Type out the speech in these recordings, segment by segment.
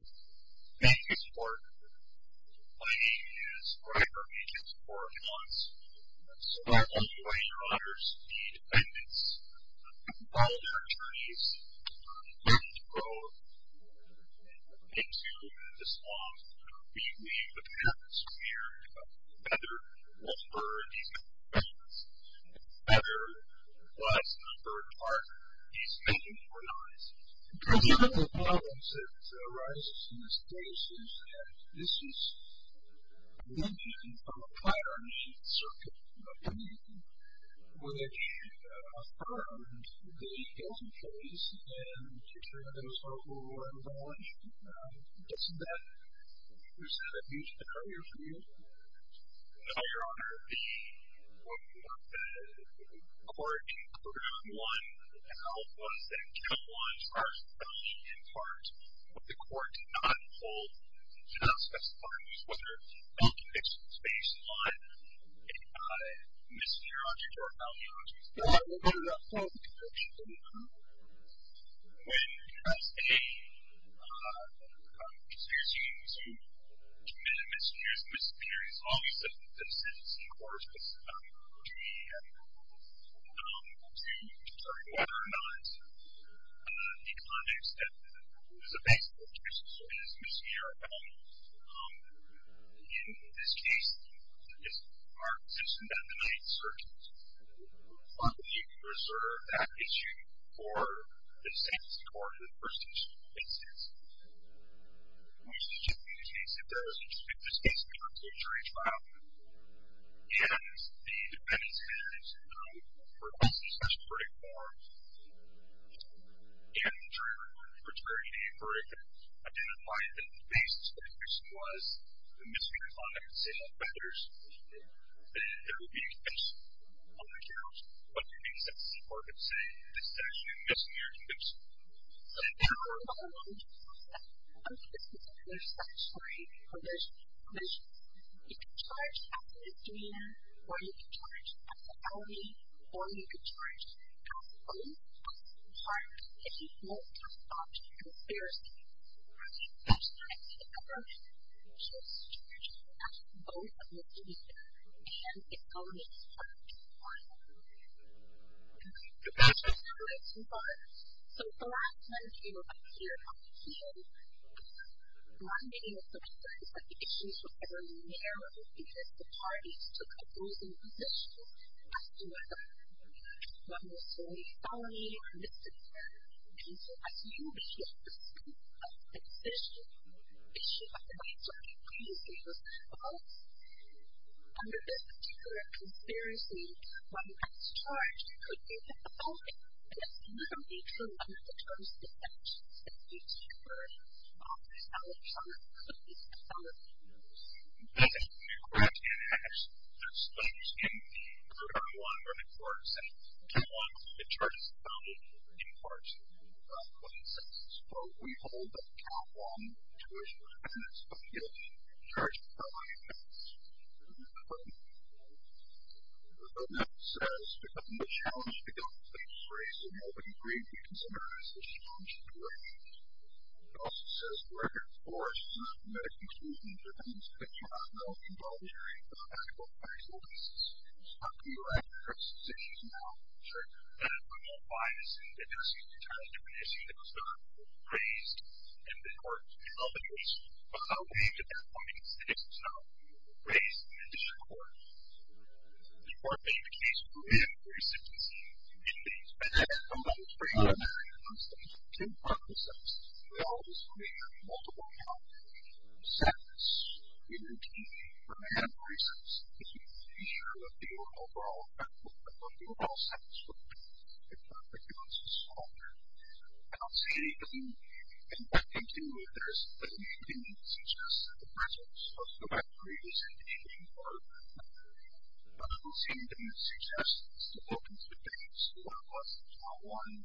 Thank you, Mr. Clark. My name is Gregor E. James Clark-Hans. So, I'm one of the greater honors, the defendants, called their attorneys on 30th Road into the swamp. We, the defendants, were here to cover the weather, the number of defendants, and the weather was on 3rd Park, East 249th. One of the problems that arises in this case is that this is the engine of a piracy circuit, in my opinion, where they should have armed the guilty parties and turned those who were involved. Doesn't that present a huge barrier for you? No, Your Honor. The court included on one of the alphas that count one's arson felony in part, but the court did not hold, did not specify whether the conviction was based on a misdemeanor object or a felony object. Your Honor, we're going to go to the fourth example. When, as a, excuse me, as a committed misdemeanor, there is misdemeanor. It's always a sentencing court that's going to be accountable to determining whether or not the objects that is a base for the conviction should be a misdemeanor. In this case, it's our position that the 9th Circuit would probably reserve that issue for the sentencing court in the first instance. In the second instance, if there is, in this case, we have a closed jury trial, and the defendant has requested a special verdict for an injury related to fraternity, a verdict that identified that the base of the conviction was a misdemeanor crime. I could say that better. There would be a conviction on the count, but the case at the sentencing court could say misdemeanor conviction. So, again, we're following the process of the 6th Circuit's statutory provisions. You can charge as a misdemeanor, or you can charge as a felony, or you can charge as a felony, but it's important that you hold your thought and your fears together. If you hold your thoughts together, you're charging as both a misdemeanor and a felony. All right. So, that's just how it works. So, for a lot of times, you know, up here on the field, my meeting with somebody said that the issues were very narrow because the parties took opposing positions as to whether one was felony or misdemeanor. And so, I said, you know, the issue at the 6th Circuit, that's the issue. The issue at the 6th Circuit, previously, was both. Under this particular conspiracy, one that's charged could be a felony, and it's not an issue under the terms of the 6th Circuit where a felony charge could be a felony. Yes. Correct. That's what I was getting at. Part of what I wanted the court to say, we don't want the charges of felony in parts of the 6th Circuit. So, we hold that the California Jurisdiction is charged with felony offense. Okay. So, now it says, It also says, So, I'm going to go ahead and address these issues now. Sure. Okay. We believe at that point, it's not raised in addition to the court. The court made the case for man-aggravated sentencing. It is, but I don't know. It was pretty obvious. It was a two-part process. It always would have multiple, you know, sets in routine for man-aggravated sentences, just to ensure that the overall effect of the overall sentence would be a perfect and consistent offender. I don't see any, and I think, too, that there's a need to suggest that the presence of the referee is an issue, but I don't see anything that suggests that it's the focus of the case. It's not one. I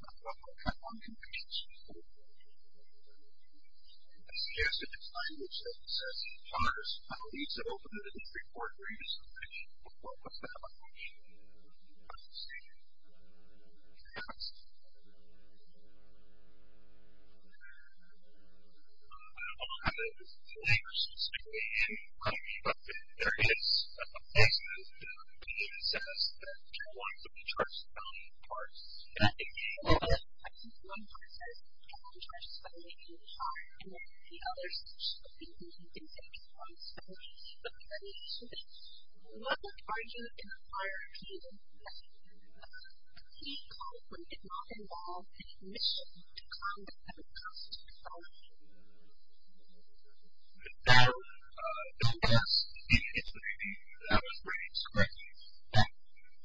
don't know. I'm kind of on two pages. I suggest if it's language, that it says, I don't have the language specifically in front of me, but there is a place that it says that there are two lines of the charge spelling part. I think one part says, I don't have the charge spelling in front, and then the other says, I don't think you can use it in front, so I think that needs to change. What would argue in a prior appeal that the plea clause would not involve any mission to conduct a reconstructive felony? That would be the best. That would be great. It's great. But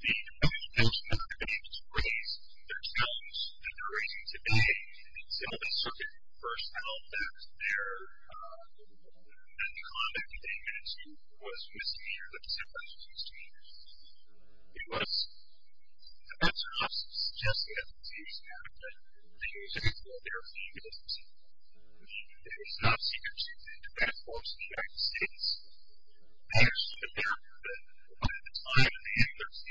the definition that they used to raise, they're telling us that they're raising today until the circuit first found that the conduct that they had to do was misdemeanor, that they said it was misdemeanor. It was. That's not suggesting that the case happened. The example there being a misdemeanor, meaning that it's not a secrecy, but it's a bad force in the United States. I actually looked it up. At the time, I think there was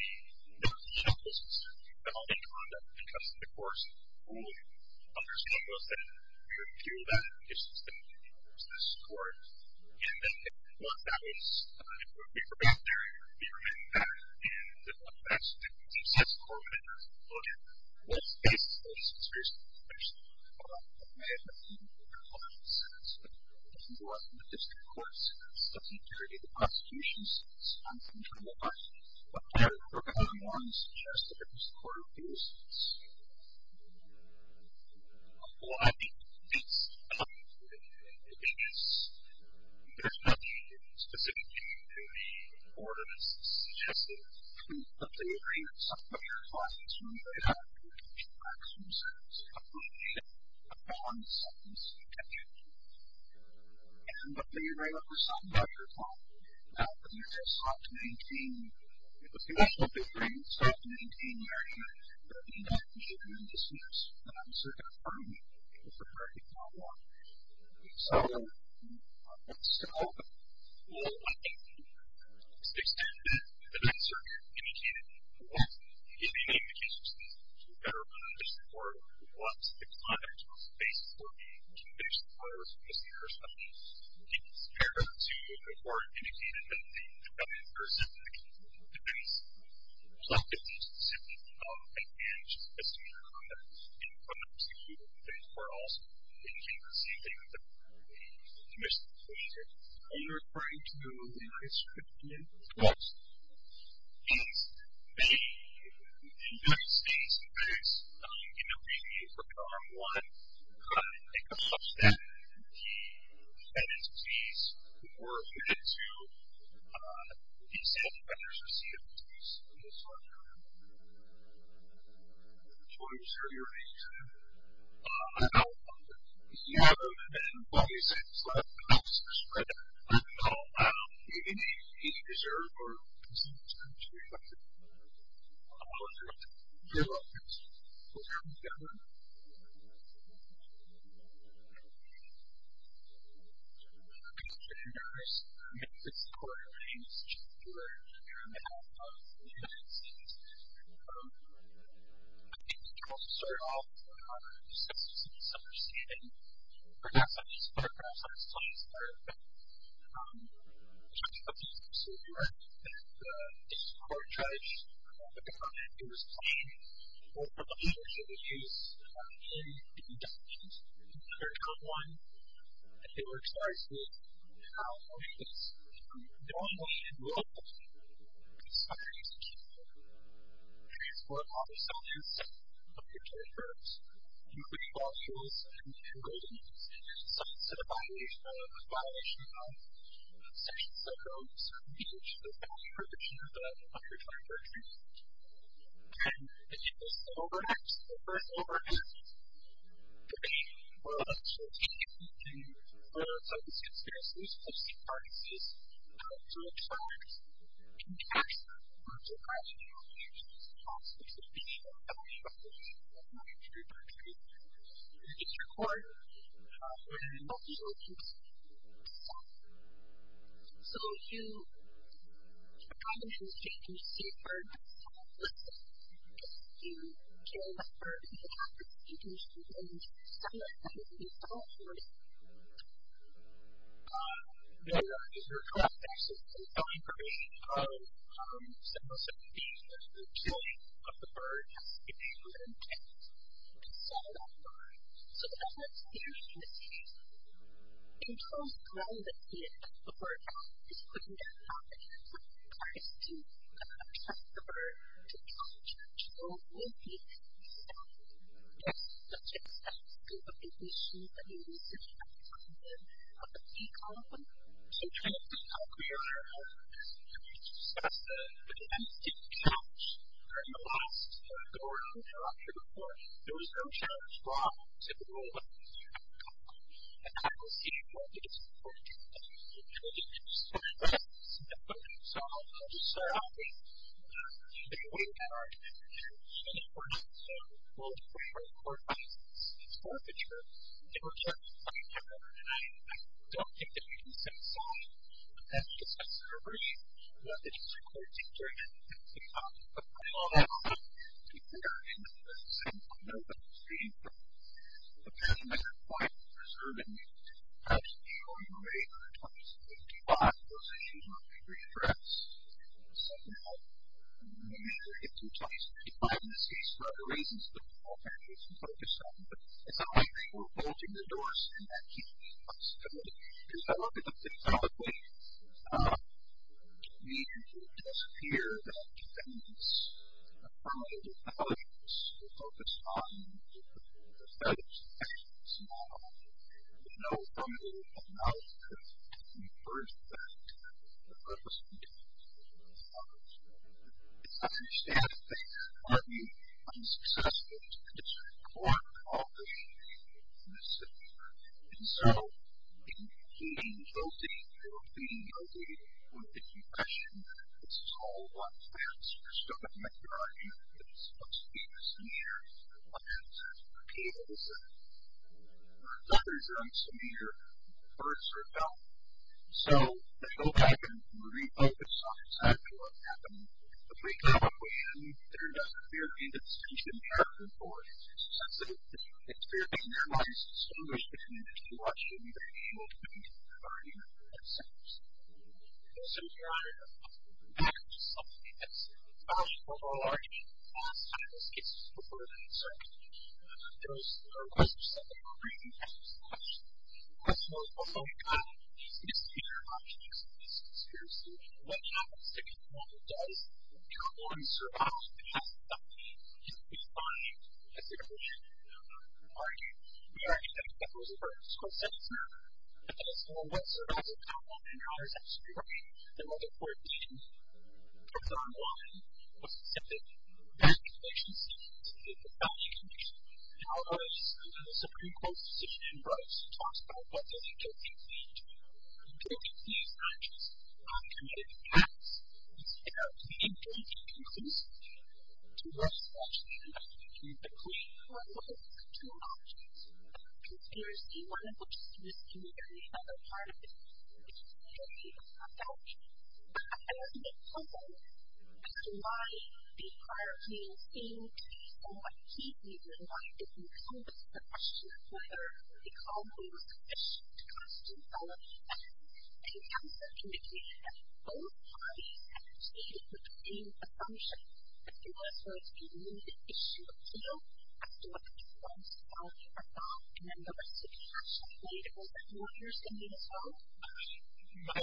no legal system for felony conduct because of the courts ruling. There's no way that we would view that if the system didn't use this court. And then once that was, we were back there, we were getting back, and the fact that it was accessible, and it was included, was basically a serious misdemeanor. It may have been, but if you go up to the district courts, it's a security to the prosecution, so it's uncontrollable. But there were felony warrants suggested against the Court of Appeals. Well, I think it's, I think it's, there's nothing specific to the court that's suggested that we put the arraignments up with our clients when they have to get back to themselves. I don't want to set this subject. And hopefully you know what you're talking about, your client. But you just have to maintain, if you wish, don't be afraid, just have to maintain the arraignment, but if you don't, you shouldn't be dismissed. And I'm certainly going to find you if the verdict is not law. So, that's all. Well, I think, to the extent that that's sort of indicated, well, it may be the case that the court wants the client to face for the conviction or the misdemeanor or something. It's fair to the court indicating that the felonious person that committed the offense plotted the specific and managed the specific and prosecuted the case. Or also, it may be the same thing with the misdemeanor. Are you referring to the legal institution? Yes. Yes. The United States, in fact, you know, we need to look at Arm 1. It comes up that he had a disease or he had to be sent to vendors to see if he was in this sort of area. Which order is that you're referring to? I don't know. You know, then, well, you said it's like an officer's credit. I don't know. Maybe he deserves or he deserves credit to be affected. I don't know if you're referring to your office or if you're referring to the government. Okay. If you notice, I'm going to put the court names to the floor here in the middle of the United States. I think we can also start off just as you see in this upper scene and perhaps I'll just put it across on the slide as part of it. I just want to put this up so you know that this court judged that the comment that was made over the years that was used in the indictment in court number one, that they were charged with how or if it's normally enrolled in some kind of transport, auto selling, and selling of intellectual properties, including valuables and valuables. So instead of a violation of Section 70, Section 80, the value protection of the unrefined property, and it was an overact, the first overact that they were actually taking into consideration because the parties were trying to maximize the value of the property and the value of the property. It is required for an intellectual to sell. So if you come in and you see a bird and you say listen, if you kill a bird and you have this information and you sell it and you sell it for a certain value, then you're collecting some information on how much you have and you can sell it online. So the evidence here is that the bird is putting down property and trying to attract the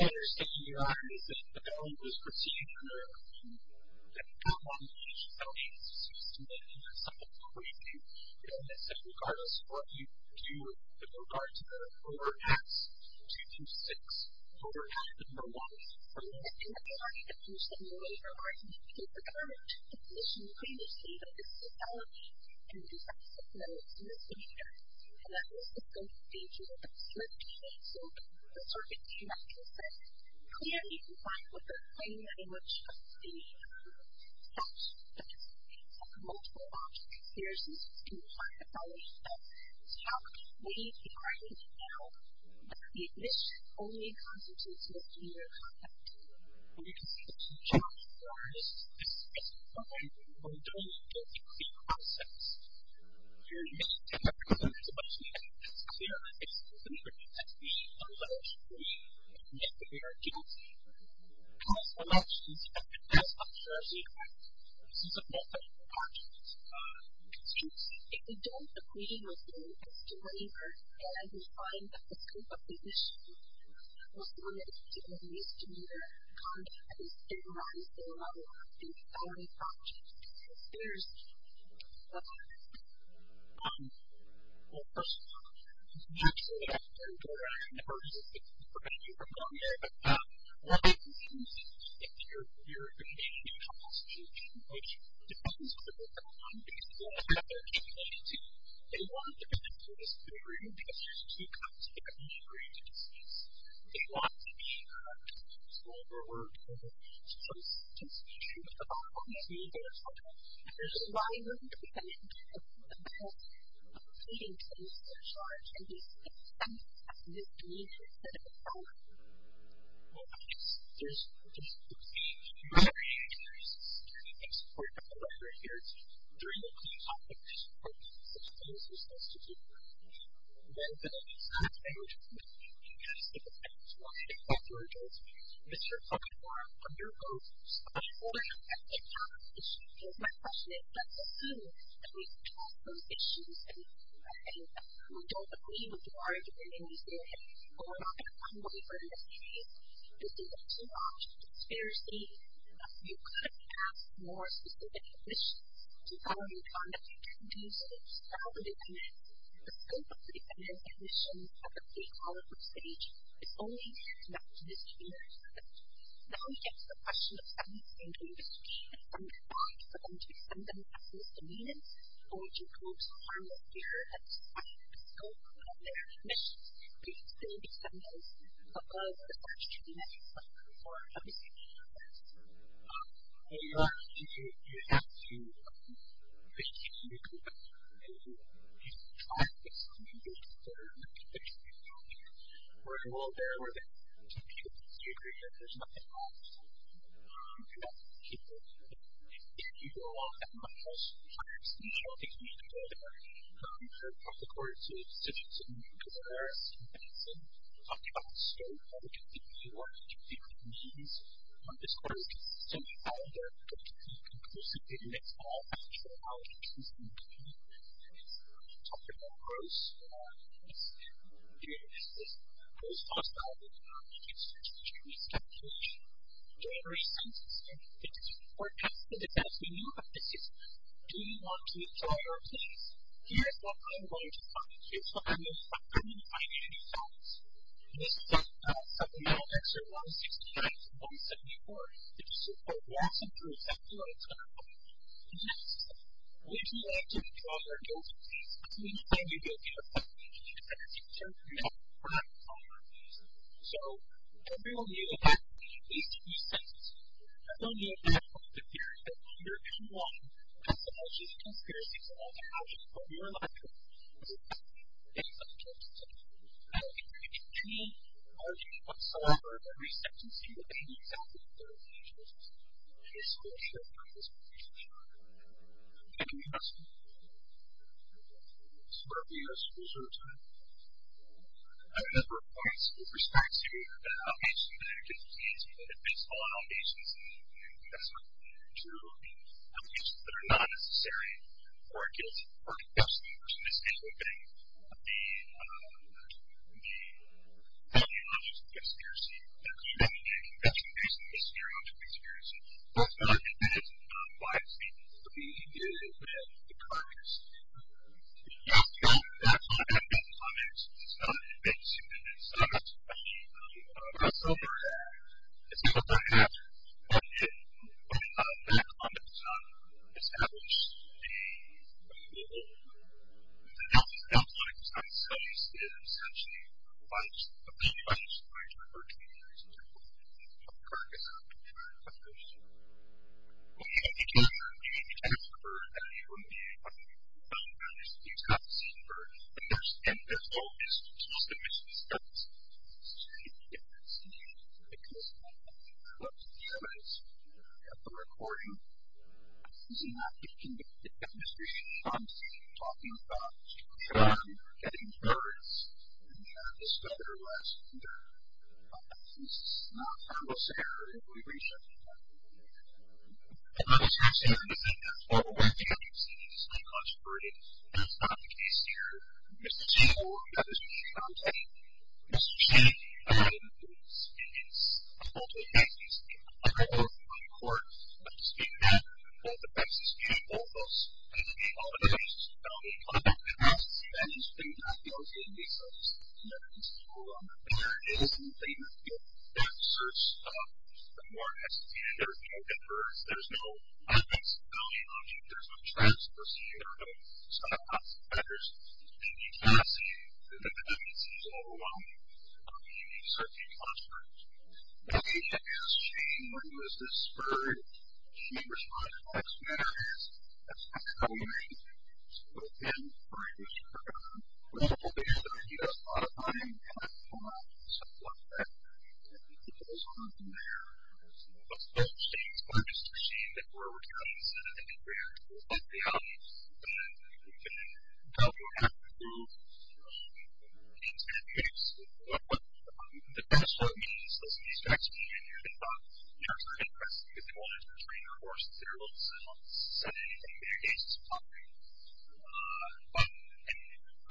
bird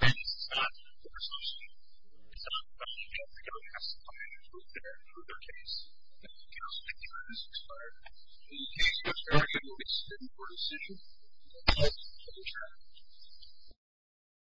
to